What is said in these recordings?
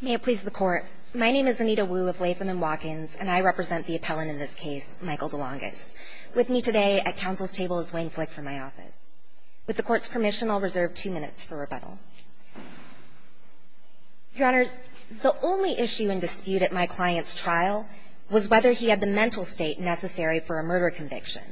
May it please the Court, my name is Anita Wu of Latham & Watkins, and I represent the appellant in this case, Michael Delongis. With me today at Council's table is Wayne Flick from my office. With the Court's permission, I'll reserve two minutes for rebuttal. Your Honors, the only issue in dispute at my client's trial was whether he had the mental state necessary for a murder conviction.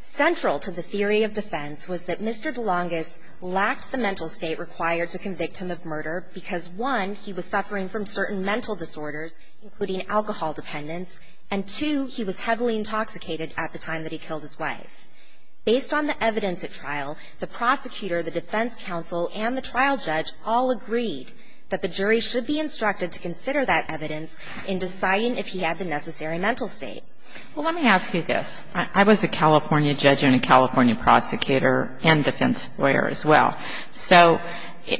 Central to the theory of defense was that Mr. Delongis lacked the mental state required to convict him of murder, because one, he was suffering from certain mental disorders, including alcohol dependence, and two, he was heavily intoxicated at the time that he killed his wife. Based on the evidence at trial, the prosecutor, the defense counsel, and the trial judge all agreed that the jury should be instructed to consider that evidence in deciding if he had the necessary mental state. Well, let me ask you this. I was a California judge and a California prosecutor and defense lawyer as well. So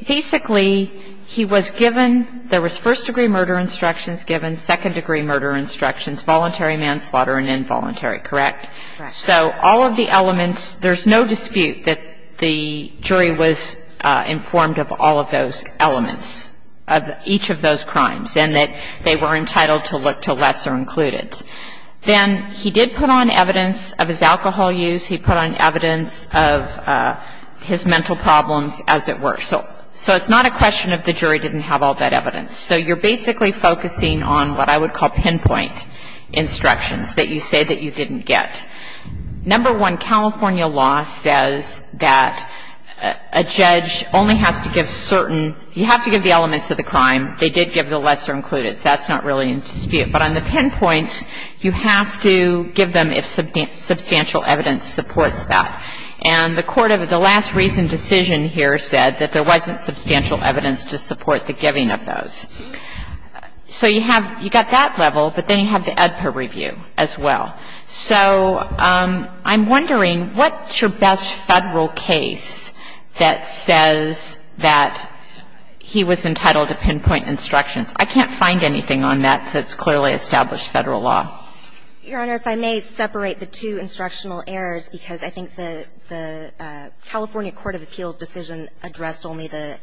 basically, he was given, there was first-degree murder instructions given, second-degree murder instructions, voluntary manslaughter, and involuntary, correct? Correct. So all of the elements, there's no dispute that the jury was informed of all of those elements, of each of those crimes, and that they were entitled to look to lesser included. Then he did put on evidence of his alcohol use. He put on evidence of his mental problems, as it were. So it's not a question of the jury didn't have all that evidence. So you're basically focusing on what I would call pinpoint instructions that you say that you didn't get. Number one, California law says that a judge only has to give certain, you have to give the elements of the crime. They did give the lesser included. So that's not really in dispute. But on the pinpoint, you have to give them if substantial evidence supports that. And the court of the last recent decision here said that there wasn't substantial evidence to support the giving of those. So you have, you got that level, but then you have the Edper review as well. So I'm wondering, what's your best Federal case that says that he was entitled to pinpoint instructions? I can't find anything on that that's clearly established Federal law. Your Honor, if I may separate the two instructional errors, because I think the California court of appeals decision addressed only the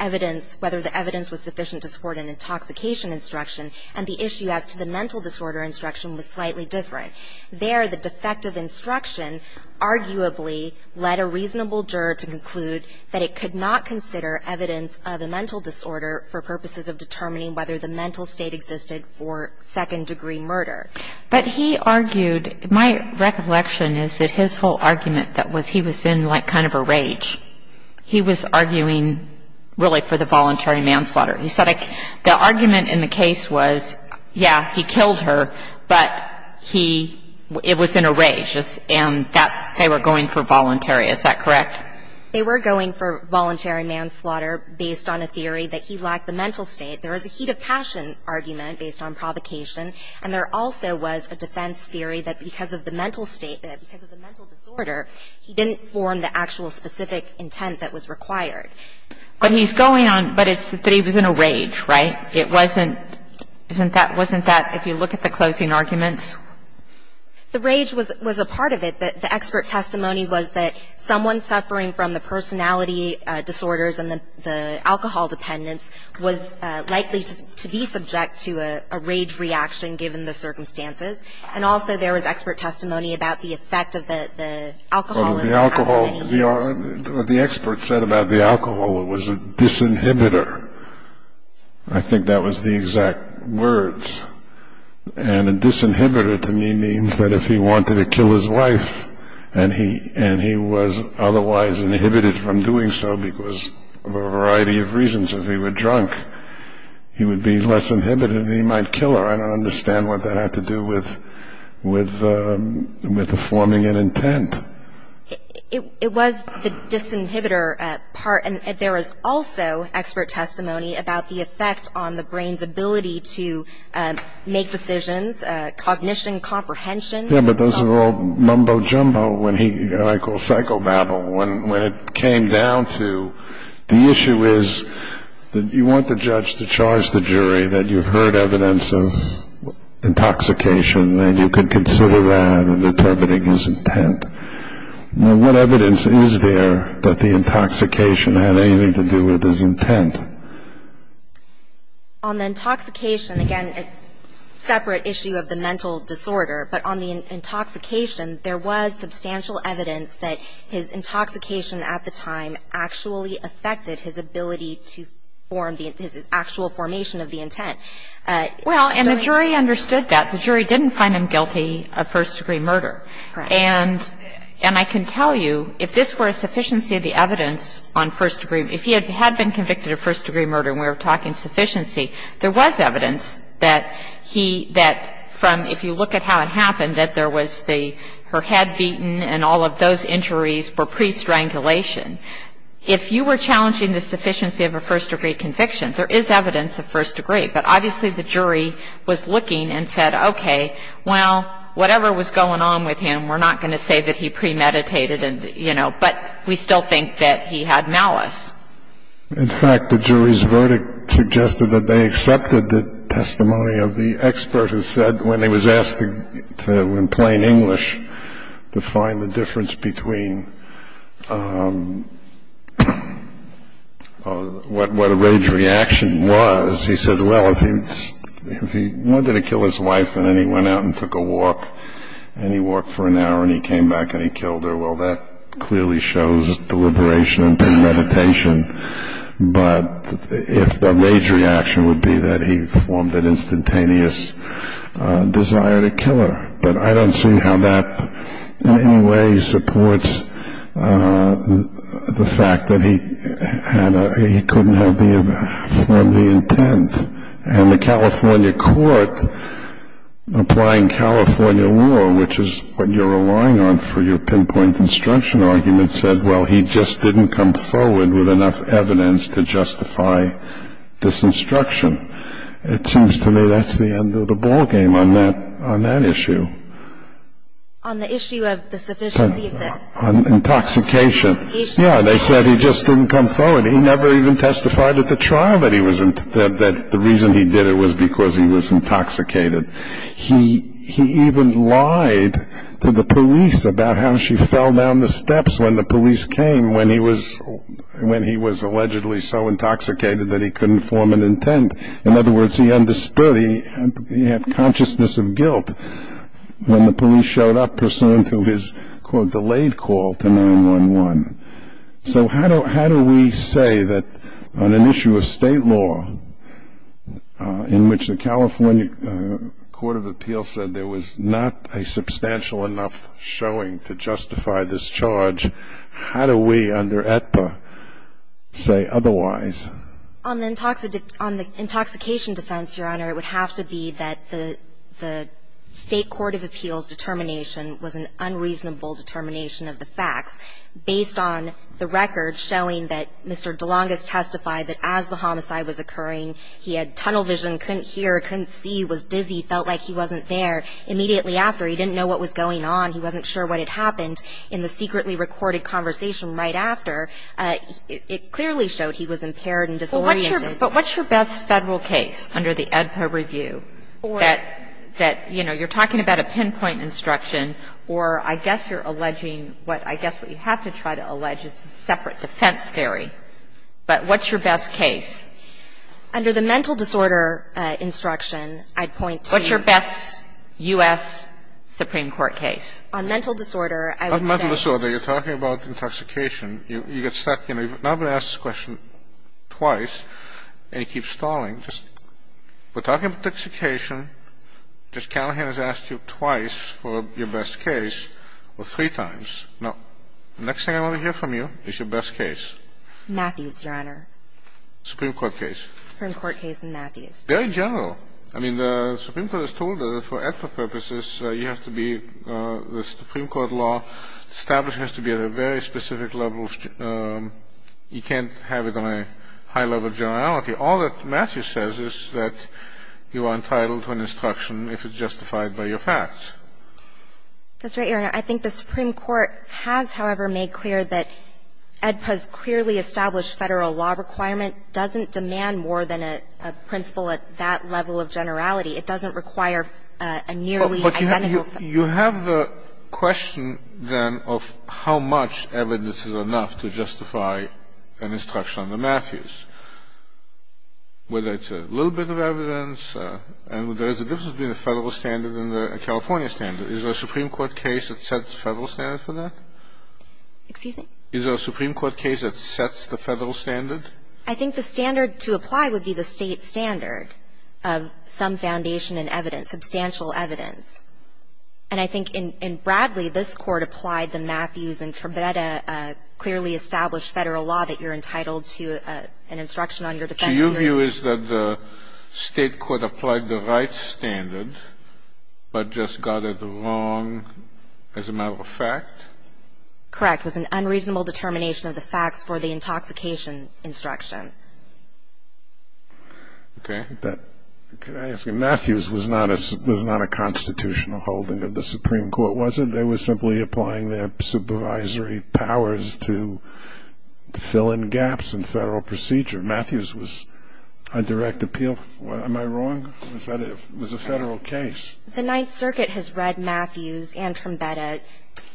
evidence, whether the evidence was sufficient to support an intoxication instruction, and the issue as to the mental disorder instruction was slightly different. There, the defective instruction arguably led a reasonable juror to conclude that it could not consider evidence of a mental disorder for purposes of determining whether the mental state existed for second degree murder. But he argued, my recollection is that his whole argument that was he was in like kind of a rage. He was arguing really for the voluntary manslaughter. He said the argument in the case was, yeah, he killed her, but he, it was in a rage, and that's, they were going for voluntary. Is that correct? They were going for voluntary manslaughter based on a theory that he lacked the mental state. There was a heat of passion argument based on provocation, and there also was a defense theory that because of the mental state, because of the mental disorder, he didn't form the actual specific intent that was required. But he's going on, but it's that he was in a rage, right? It wasn't, isn't that, wasn't that, if you look at the closing arguments? The rage was a part of it. The expert testimony was that someone suffering from the personality disorders and the alcohol dependence was likely to be subject to a rage reaction given the circumstances. And also there was expert testimony about the effect of the alcohol. The expert said about the alcohol it was a disinhibitor. I think that was the exact words. And a disinhibitor to me means that if he wanted to kill his wife and he was otherwise inhibited from doing so because of a variety of reasons. If he were drunk, he would be less inhibited and he might kill her. I don't understand what that had to do with the forming an intent. It was the disinhibitor part. And there was also expert testimony about the effect on the brain's ability to make decisions, cognition, comprehension. Yeah, but those are all mumbo-jumbo when he, what I call psychobabble. When it came down to the issue is that you want the judge to charge the jury, that you've heard evidence of intoxication and you can consider that in determining his intent. Now, what evidence is there that the intoxication had anything to do with his intent? On the intoxication, again, it's a separate issue of the mental disorder. But on the intoxication, there was substantial evidence that his intoxication at the time actually affected his ability to form the, his actual formation of the intent. Well, and the jury understood that. The jury didn't find him guilty of first-degree murder. Correct. And I can tell you if this were a sufficiency of the evidence on first-degree, if he had been convicted of first-degree murder and we were talking sufficiency, there was evidence that he, that from, if you look at how it happened, that there was the, her head beaten and all of those injuries were pre-strangulation. If you were challenging the sufficiency of a first-degree conviction, there is evidence of first-degree. But obviously, the jury was looking and said, okay, well, whatever was going on with him, we're not going to say that he premeditated and, you know, but we still think that he had malice. In fact, the jury's verdict suggested that they accepted the testimony of the expert who said when he was asked to, in plain English, to find the difference between what a rage reaction was, he said, well, if he wanted to kill his wife and then he went out and took a walk and he walked for an hour and he came back and he killed her, well, that clearly shows deliberation and premeditation. But if the rage reaction would be that he formed an instantaneous desire to kill her, but I don't see how that in any way supports the fact that he couldn't have formed the intent. And the California court, applying California law, which is what you're relying on for your pinpoint construction argument, said, well, he just didn't come forward with enough evidence to justify this instruction. It seems to me that's the end of the ballgame on that issue. On the issue of the sufficiency of the- On intoxication. Yeah, they said he just didn't come forward. He never even testified at the trial that the reason he did it was because he was intoxicated. He even lied to the police about how she fell down the steps when the police came when he was allegedly so intoxicated that he couldn't form an intent. In other words, he understood, he had consciousness of guilt when the police showed up pursuant to his, quote, delayed call to 911. So how do we say that on an issue of State law in which the California court of appeal said there was not a substantial enough showing to justify this charge, how do we under AETPA say otherwise? On the intoxication defense, Your Honor, it would have to be that the State court of appeal's determination was an unreasonable determination of the facts based on the records showing that Mr. DeLongis testified that as the homicide was occurring, he had tunnel vision, couldn't hear, couldn't see, was dizzy, felt like he wasn't there. Immediately after, he didn't know what was going on. He wasn't sure what had happened. In the secretly recorded conversation right after, it clearly showed he was impaired and disoriented. But what's your best Federal case under the AEDPA review that, you know, you're talking about a pinpoint instruction or I guess you're alleging what, I guess what you have to try to allege is a separate defense theory. But what's your best case? Under the mental disorder instruction, I'd point to. What's your best U.S. Supreme Court case? On mental disorder, I would say. On mental disorder, you're talking about intoxication. You get stuck, you know, you've not been asked this question twice and you keep stalling. We're talking about intoxication. Judge Callahan has asked you twice for your best case or three times. Now, the next thing I want to hear from you is your best case. Matthews, Your Honor. Supreme Court case. Supreme Court case in Matthews. Very general. I mean, the Supreme Court has told us that for AEDPA purposes, you have to be, the Supreme Court law established has to be at a very specific level. You can't have it on a high level of generality. All that Matthews says is that you are entitled to an instruction if it's justified by your facts. That's right, Your Honor. I think the Supreme Court has, however, made clear that AEDPA's clearly established Federal law requirement doesn't demand more than a principle at that level of generality. It doesn't require a nearly identical. You have the question, then, of how much evidence is enough to justify an instruction on the Matthews? Whether it's a little bit of evidence, and there is a difference between the Federal standard and the California standard. Is there a Supreme Court case that sets the Federal standard for that? Excuse me? Is there a Supreme Court case that sets the Federal standard? I think the standard to apply would be the state standard of some foundation in evidence, substantial evidence. And I think in Bradley, this Court applied the Matthews and Trebetta clearly established Federal law that you're entitled to an instruction on your defense. So your view is that the state court applied the right standard, but just got it wrong as a matter of fact? Correct. It was an unreasonable determination of the facts for the intoxication instruction. Okay. Can I ask you, Matthews was not a constitutional holding of the Supreme Court, was it? They were simply applying their supervisory powers to fill in gaps in Federal procedure. Matthews was a direct appeal. Am I wrong? It was a Federal case. The Ninth Circuit has read Matthews and Trebetta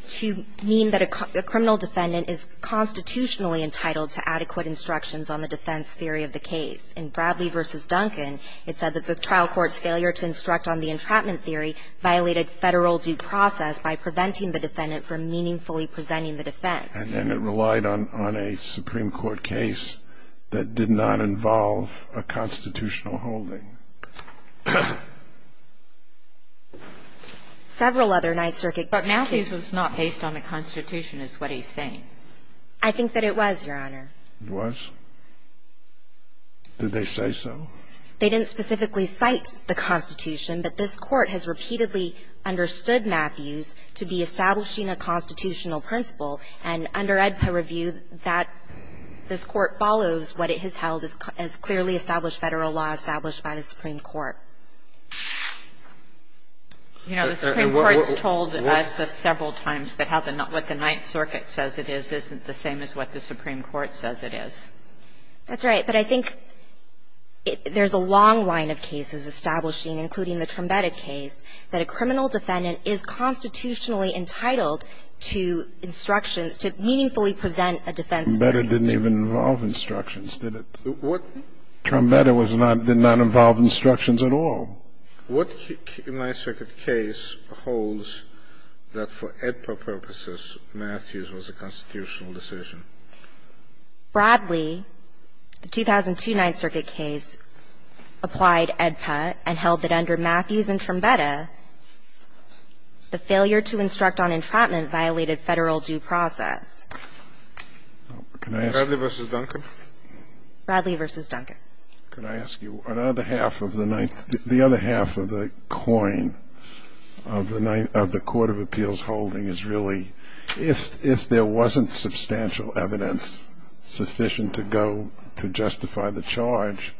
to mean that a criminal defendant is constitutionally entitled to adequate instructions on the defense theory of the case. In Bradley v. Duncan, it said that the trial court's failure to instruct on the entrapment theory violated Federal due process by preventing the defendant from meaningfully presenting the defense. And it relied on a Supreme Court case that did not involve a constitutional holding. Several other Ninth Circuit cases. But Matthews was not based on the Constitution is what he's saying. I think that it was, Your Honor. It was? Did they say so? They didn't specifically cite the Constitution, but this Court has repeatedly understood Matthews to be establishing a constitutional principle, and under AEDPA review, that this Court follows what it has held as clearly established Federal law established by the Supreme Court. You know, the Supreme Court has told us several times that what the Ninth Circuit says it is isn't the same as what the Supreme Court says it is. That's right. But I think there's a long line of cases establishing, including the Trombetta case, that a criminal defendant is constitutionally entitled to instructions to meaningfully present a defense theory. Trombetta didn't even involve instructions, did it? What? Trombetta did not involve instructions at all. What Ninth Circuit case holds that for AEDPA purposes, Matthews was a constitutional decision? Bradley, the 2002 Ninth Circuit case, applied AEDPA and held that under Matthews and Trombetta, the failure to instruct on entrapment violated Federal due process. Can I ask? Bradley v. Duncan? Bradley v. Duncan. Can I ask you, the other half of the coin of the Court of Appeals holding is really if there wasn't substantial evidence sufficient to go to justify the charge,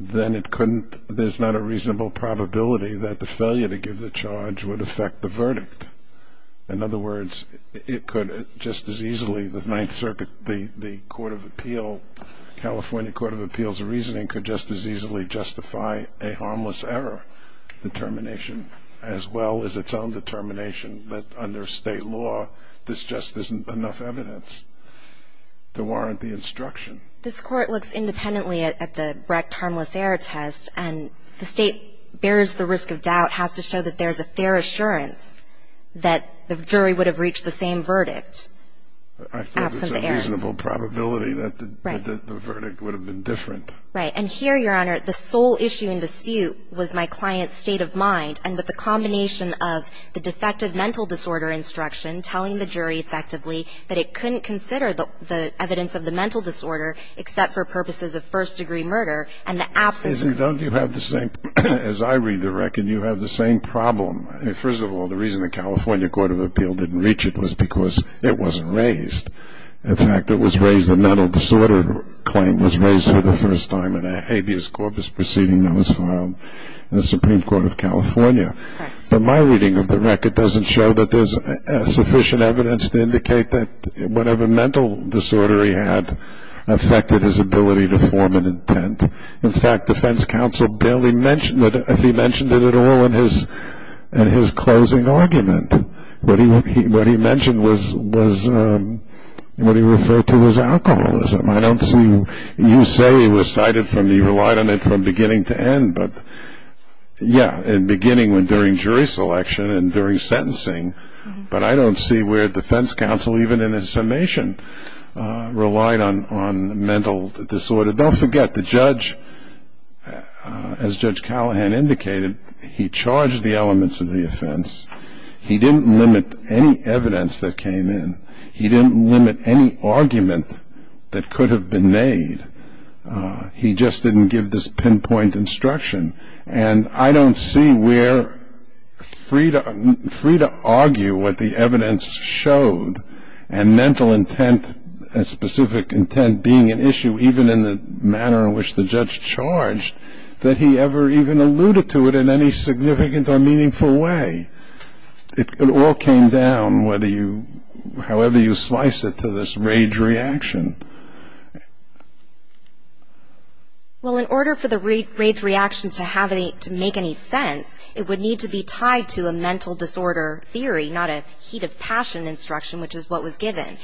then it couldn't, there's not a reasonable probability that the failure to give the charge would affect the verdict. In other words, it could just as easily, the Ninth Circuit, the Court of Appeal, California Court of Appeals reasoning could just as easily justify a harmless error determination as well as its own determination that under State law, this just isn't enough evidence to warrant the instruction. This Court looks independently at the Brecht harmless error test, and the State bears the risk of doubt, has to show that there's a fair assurance that the jury would have reached the same verdict absent the error. I think there's a reasonable probability that the verdict would have been different. And here, Your Honor, the sole issue in dispute was my client's state of mind. And with the combination of the defective mental disorder instruction telling the jury effectively that it couldn't consider the evidence of the mental disorder except for purposes of first-degree murder, and the absence of the court. Don't you have the same, as I read the record, you have the same problem. First of all, the reason the California Court of Appeal didn't reach it was because it wasn't raised. In fact, it was raised, the mental disorder claim was raised for the first time in a habeas corpus proceeding that was filed in the Supreme Court of California. So my reading of the record doesn't show that there's sufficient evidence to indicate that whatever mental disorder he had affected his ability to form an intent. In fact, defense counsel barely mentioned it, if he mentioned it at all in his closing argument. What he mentioned was what he referred to as alcoholism. I don't see, you say he relied on it from beginning to end, but yeah, in beginning during jury selection and during sentencing. But I don't see where defense counsel, even in his summation, relied on mental disorder. Don't forget, the judge, as Judge Callahan indicated, he charged the elements of the evidence that came in. He didn't limit any argument that could have been made. He just didn't give this pinpoint instruction. And I don't see where free to argue what the evidence showed and mental intent, specific intent, being an issue, even in the manner in which the judge charged, that he ever even alluded to it in any significant or meaningful way. It all came down whether you, however you slice it, to this rage reaction. Well, in order for the rage reaction to have any, to make any sense, it would need to be tied to a mental disorder theory, not a heat of passion instruction, which is what was given.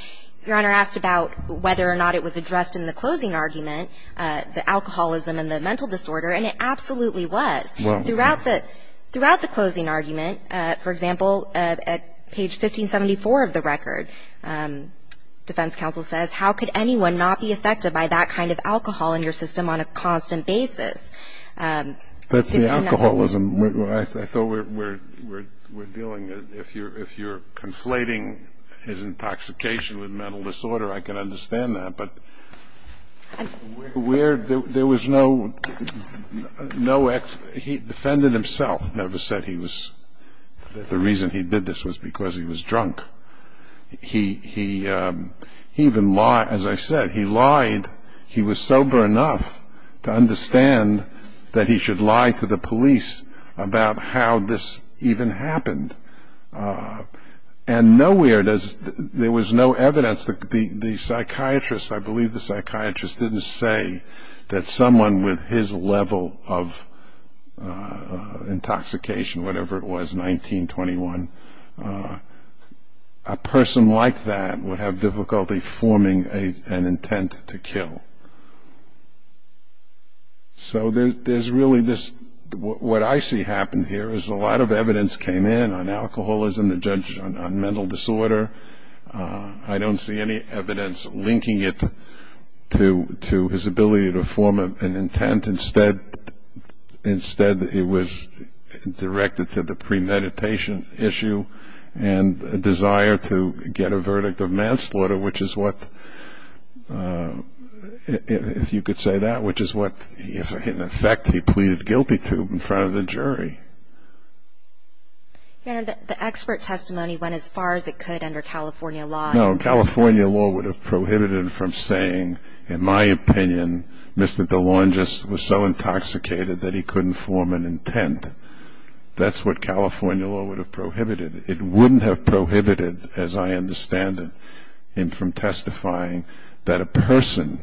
Your Honor asked about whether or not it was addressed in the closing argument, the alcoholism and the mental disorder, and it absolutely was. Throughout the closing argument, for example, at page 1574 of the record, defense counsel says, how could anyone not be affected by that kind of alcohol in your system on a constant basis? That's the alcoholism. I thought we're dealing, if you're conflating his intoxication with mental disorder, I can understand that. But where there was no, he defended himself, never said he was, the reason he did this was because he was drunk. He even lied, as I said, he lied, he was sober enough to understand that he should lie to the police about how this even happened. And nowhere does, there was no evidence that the psychiatrist, I believe the psychiatrist didn't say that someone with his level of intoxication, whatever it was, 1921, a person like that would have difficulty forming an intent to kill. So there's really this, what I see happen here is a lot of evidence came in on alcoholism, the judge on mental disorder. I don't see any evidence linking it to his ability to form an intent. Instead, it was directed to the premeditation issue and a desire to get a verdict of manslaughter, which is what, if you could say that, which is what, in effect, he pleaded guilty to in front of the jury. The expert testimony went as far as it could under California law. No, California law would have prohibited him from saying, in my opinion, Mr. DeLongis was so intoxicated that he couldn't form an intent. That's what California law would have prohibited. It wouldn't have prohibited, as I understand it, him from testifying that a person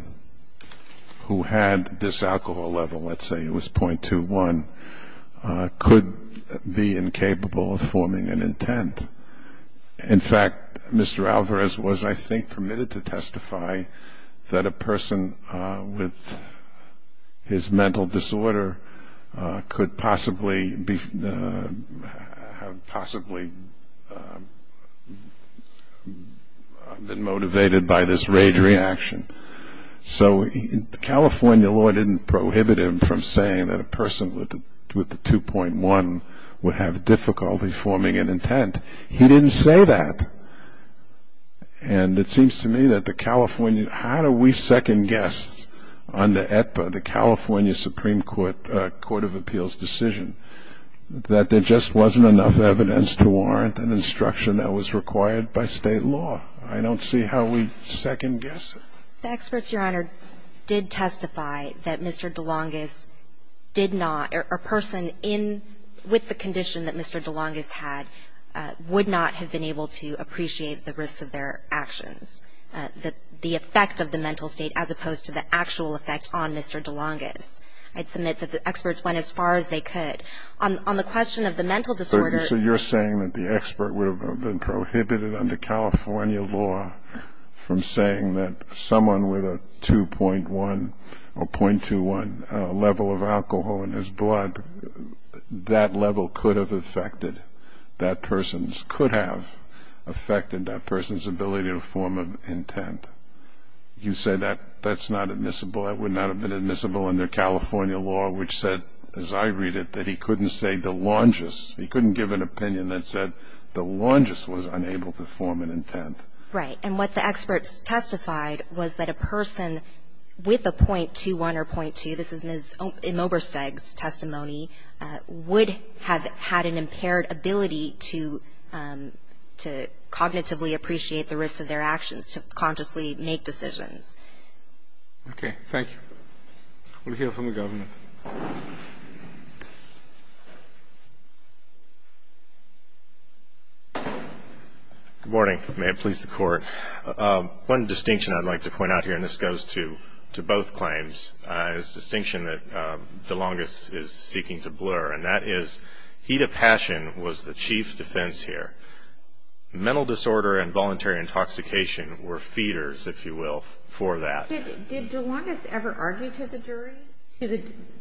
who had this alcohol level, let's say it was .21, could be incapable of forming an intent. In fact, Mr. Alvarez was, I think, permitted to testify that a person with his mental disorder could possibly have been motivated by this rage reaction. So California law didn't prohibit him from saying that a person with a 2.1 would have difficulty forming an intent. He didn't say that. And it seems to me that the California, how do we second-guess on the California Supreme Court court of appeals decision, that there just wasn't enough evidence to warrant an instruction that was required by State law. I don't see how we second-guess it. The experts, Your Honor, did testify that Mr. DeLongis did not, or a person in, with the condition that Mr. DeLongis had, would not have been able to appreciate the risks of their actions, the effect of the mental state as opposed to the actual effect on Mr. DeLongis. I'd submit that the experts went as far as they could. On the question of the mental disorder. So you're saying that the expert would have been prohibited under California law from saying that someone with a 2.1 or .21 level of alcohol in his blood, that level could have affected that person's, could have affected that person's ability to form an intent. You say that's not admissible. That would not have been admissible under California law, which said, as I read it, that he couldn't say DeLongis, he couldn't give an opinion that said DeLongis was unable to form an intent. Right. And what the experts testified was that a person with a .21 or .2, this is Ms. Imobersteg's testimony, would have had an impaired ability to cognitively appreciate the risks of their actions, to consciously make decisions. Okay. Thank you. We'll hear from the Governor. Good morning. May it please the Court. One distinction I'd like to point out here, and this goes to both claims, is a distinction that DeLongis is seeking to blur, and that is Hita Passion was the chief defense here. Mental disorder and voluntary intoxication were feeders, if you will, for that. Did DeLongis ever argue to the jury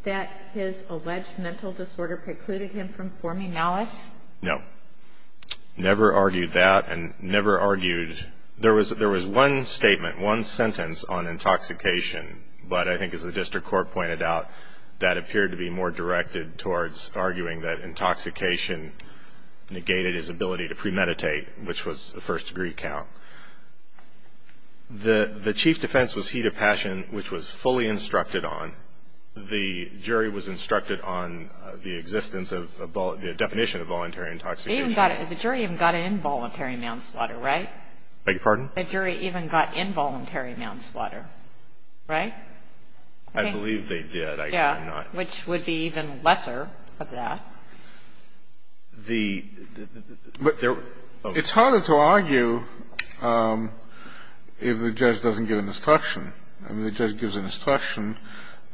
that his alleged mental disorder precluded him from forming malice? No. Never argued that and never argued. There was one statement, one sentence on intoxication, but I think as the district court pointed out, that appeared to be more directed towards arguing that intoxication negated his ability to premeditate, which was the first degree count. The chief defense was Hita Passion, which was fully instructed on. The jury was instructed on the existence of the definition of voluntary intoxication. The jury even got involuntary manslaughter, right? I beg your pardon? The jury even got involuntary manslaughter, right? I believe they did. Yeah, which would be even lesser of that. It's harder to argue if the judge doesn't give an instruction. I mean, the judge gives an instruction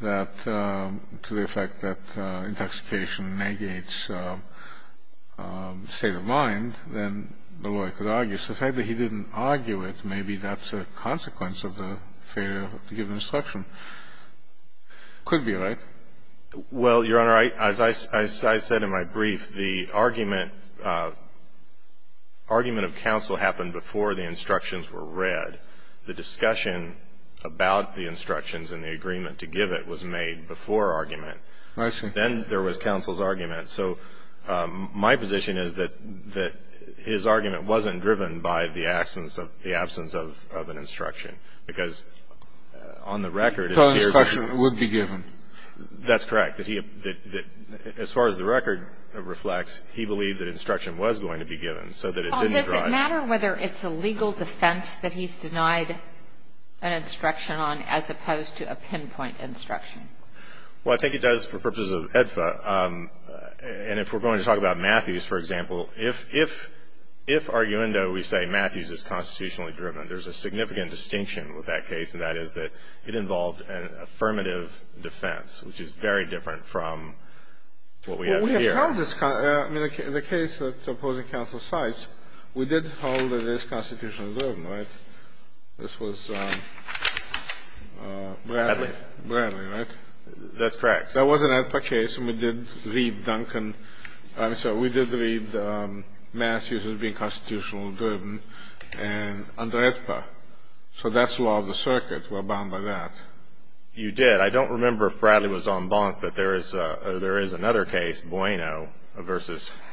that to the effect that intoxication negates state of mind, then the lawyer could argue. So the fact that he didn't argue it, maybe that's a consequence of the failure to give an instruction. Could be, right? Well, Your Honor, as I said in my brief, the argument of counsel happened before the instructions were read. The discussion about the instructions and the agreement to give it was made before argument. I see. Then there was counsel's argument. So my position is that his argument wasn't driven by the absence of an instruction, because on the record, it appears that the instruction would be given. That's correct. As far as the record reflects, he believed that instruction was going to be given so that it didn't drive. Well, does it matter whether it's a legal defense that he's denied an instruction on as opposed to a pinpoint instruction? Well, I think it does for purposes of AEDFA. And if we're going to talk about Matthews, for example, if arguendo we say Matthews is constitutionally driven, there's a significant distinction with that case, and that is that it involved an affirmative defense, which is very different from what we have here. Well, we have held this. I mean, in the case that opposing counsel cites, we did hold that it is constitutionally driven, right? This was Bradley. Bradley. Bradley, right? That's correct. That was an AEDFA case, and we did read Duncan. I'm sorry. We did read Matthews as being constitutionally driven under AEDFA. So that's law of the circuit. We're bound by that. You did. I don't remember if Bradley was en banc, but there is another case, Bueno v.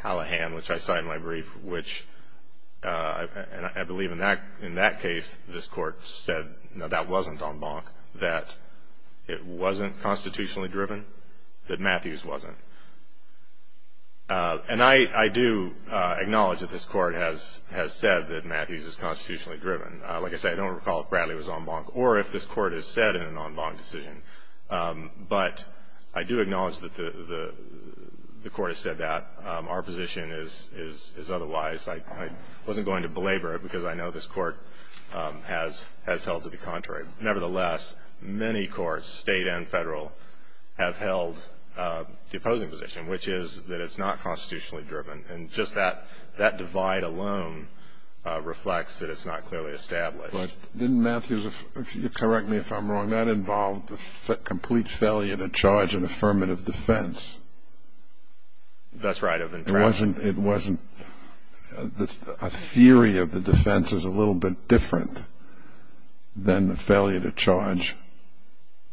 Hallahan, which I cite in my brief, which I believe in that case this Court said, no, that wasn't en banc, that it wasn't constitutionally driven, that Matthews wasn't. And I do acknowledge that this Court has said that Matthews is constitutionally driven. Like I say, I don't recall if Bradley was en banc or if this Court has said in an en banc decision. But I do acknowledge that the Court has said that. Our position is otherwise. I wasn't going to belabor it because I know this Court has held to the contrary. Nevertheless, many courts, State and Federal, have held the opposing position, which is that it's not constitutionally driven. And just that divide alone reflects that it's not clearly established. But didn't Matthews, correct me if I'm wrong, that involved the complete failure to charge an affirmative defense? That's right. It wasn't. A theory of the defense is a little bit different than the failure to charge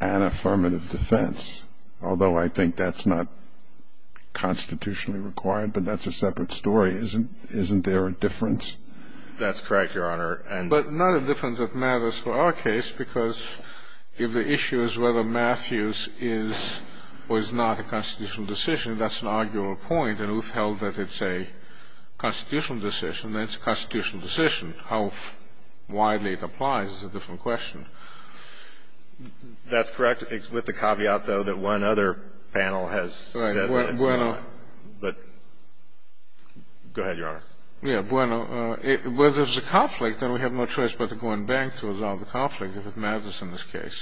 an affirmative defense, although I think that's not constitutionally required. But that's a separate story. Isn't there a difference? That's correct, Your Honor. But not a difference that matters for our case because if the issue is whether Matthews is or is not a constitutional decision, that's an arguable point. And we've held that it's a constitutional decision. Then it's a constitutional decision. How widely it applies is a different question. That's correct, with the caveat, though, that one other panel has said that. But go ahead, Your Honor. Yes. Well, if there's a conflict, then we have no choice but to go in bank to resolve the conflict, if it matters in this case.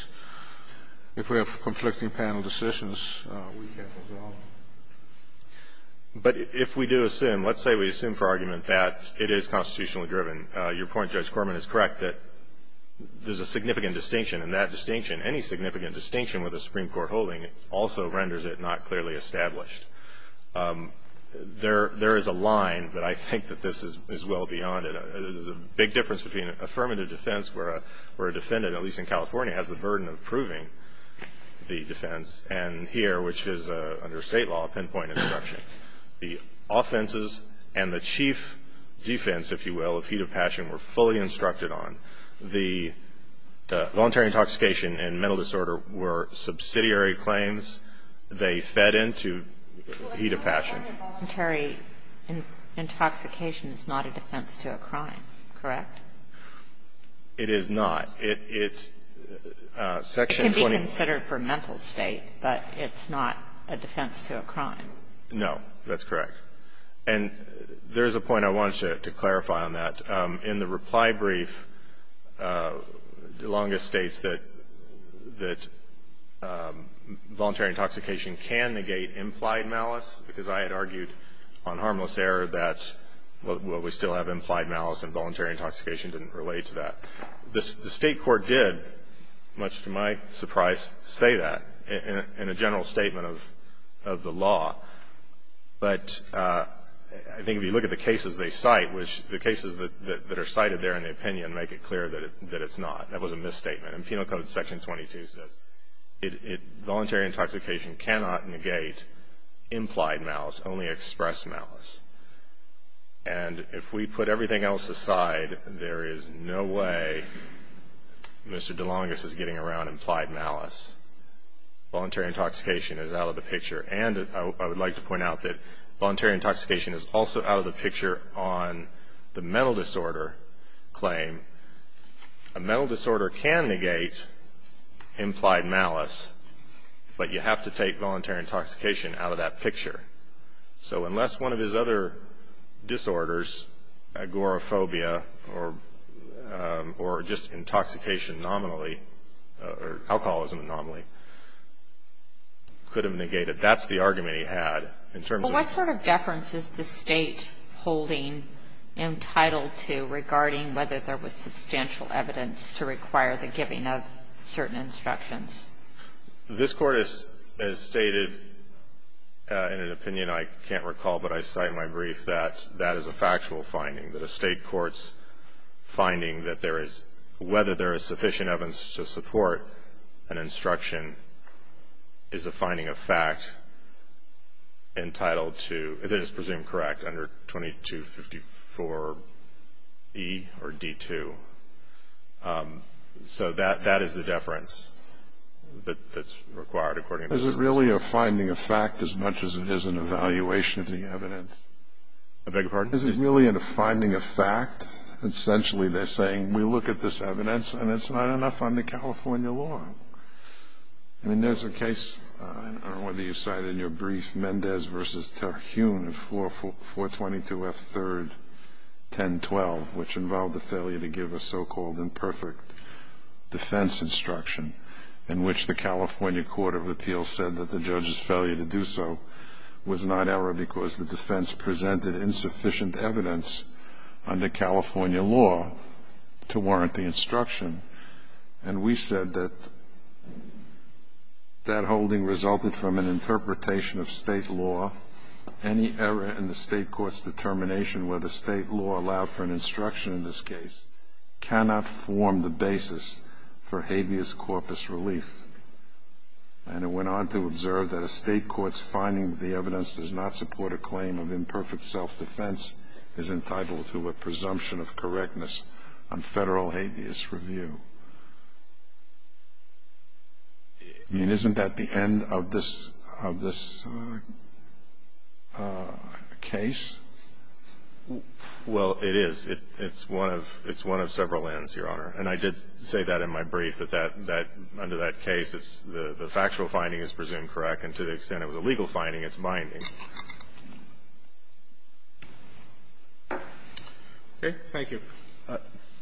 If we have conflicting panel decisions, we can't resolve them. But if we do assume, let's say we assume for argument that it is constitutionally driven, your point, Judge Corman, is correct, that there's a significant distinction, and that distinction, any significant distinction with a Supreme Court decision is not constitutionally established. There is a line, but I think that this is well beyond it. There's a big difference between affirmative defense where a defendant, at least in California, has the burden of proving the defense, and here, which is under state law, pinpoint instruction. The offenses and the chief defense, if you will, of heat of passion, were fully instructed on. The voluntary intoxication and mental disorder were subsidiary claims. They fed into heat of passion. But voluntary intoxication is not a defense to a crime, correct? It is not. It's Section 20. It can be considered for mental state, but it's not a defense to a crime. No. That's correct. And there's a point I wanted to clarify on that. In the reply brief, DeLonga states that voluntary intoxication can negate implied malice, because I had argued on harmless error that, well, we still have implied malice, and voluntary intoxication didn't relate to that. The State court did, much to my surprise, say that in a general statement of the law. But I think if you look at the cases they cite, which the cases that are cited there in the opinion make it clear that it's not. That was a misstatement. And Penal Code Section 22 says voluntary intoxication cannot negate implied malice, only express malice. And if we put everything else aside, there is no way Mr. DeLonga's is getting around implied malice. Voluntary intoxication is out of the picture. And I would like to point out that voluntary intoxication is also out of the picture on the mental disorder claim. A mental disorder can negate implied malice, but you have to take voluntary intoxication out of that picture. So unless one of his other disorders, agoraphobia, or just intoxication nominally, or alcoholism nominally, could have negated, that's the argument he had. In terms of the ---- Well, what sort of deference is the State holding entitled to regarding whether there was substantial evidence to require the giving of certain instructions? This Court has stated in an opinion I can't recall, but I cite in my brief, that that is a factual finding, that a State court's finding that there is, whether there is sufficient evidence to support an instruction is a finding of fact entitled to, that is presumed correct, under 2254e or d.2. So that is the deference that's required according to the State. Is it really a finding of fact as much as it is an evaluation of the evidence? I beg your pardon? Is it really a finding of fact? Essentially, they're saying, we look at this evidence and it's not enough under California law. I mean, there's a case, I don't know whether you cited in your brief, Mendez v. Terhune in 422f3-1012, which involved the failure to give a so-called imperfect defense instruction, in which the California Court of Appeals said that the judge's failure to do so was not error because the defense presented insufficient evidence under California law to warrant the instruction. And we said that that holding resulted from an interpretation of State law. Any error in the State court's determination whether State law allowed for an instruction in this case cannot form the basis for habeas corpus relief. And it went on to observe that a State court's finding that the evidence does not support a claim of imperfect self-defense is entitled to a presumption of correctness on Federal habeas review. I mean, isn't that the end of this case? Well, it is. It's one of several ends, Your Honor. And I did say that in my brief, that that under that case, the factual finding is presumed correct, and to the extent it was a legal finding, it's binding. Okay. Thank you.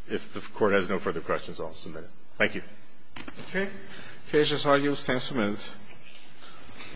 If the Court has no further questions, I'll submit it. Thank you. Okay. Cases are used and submitted.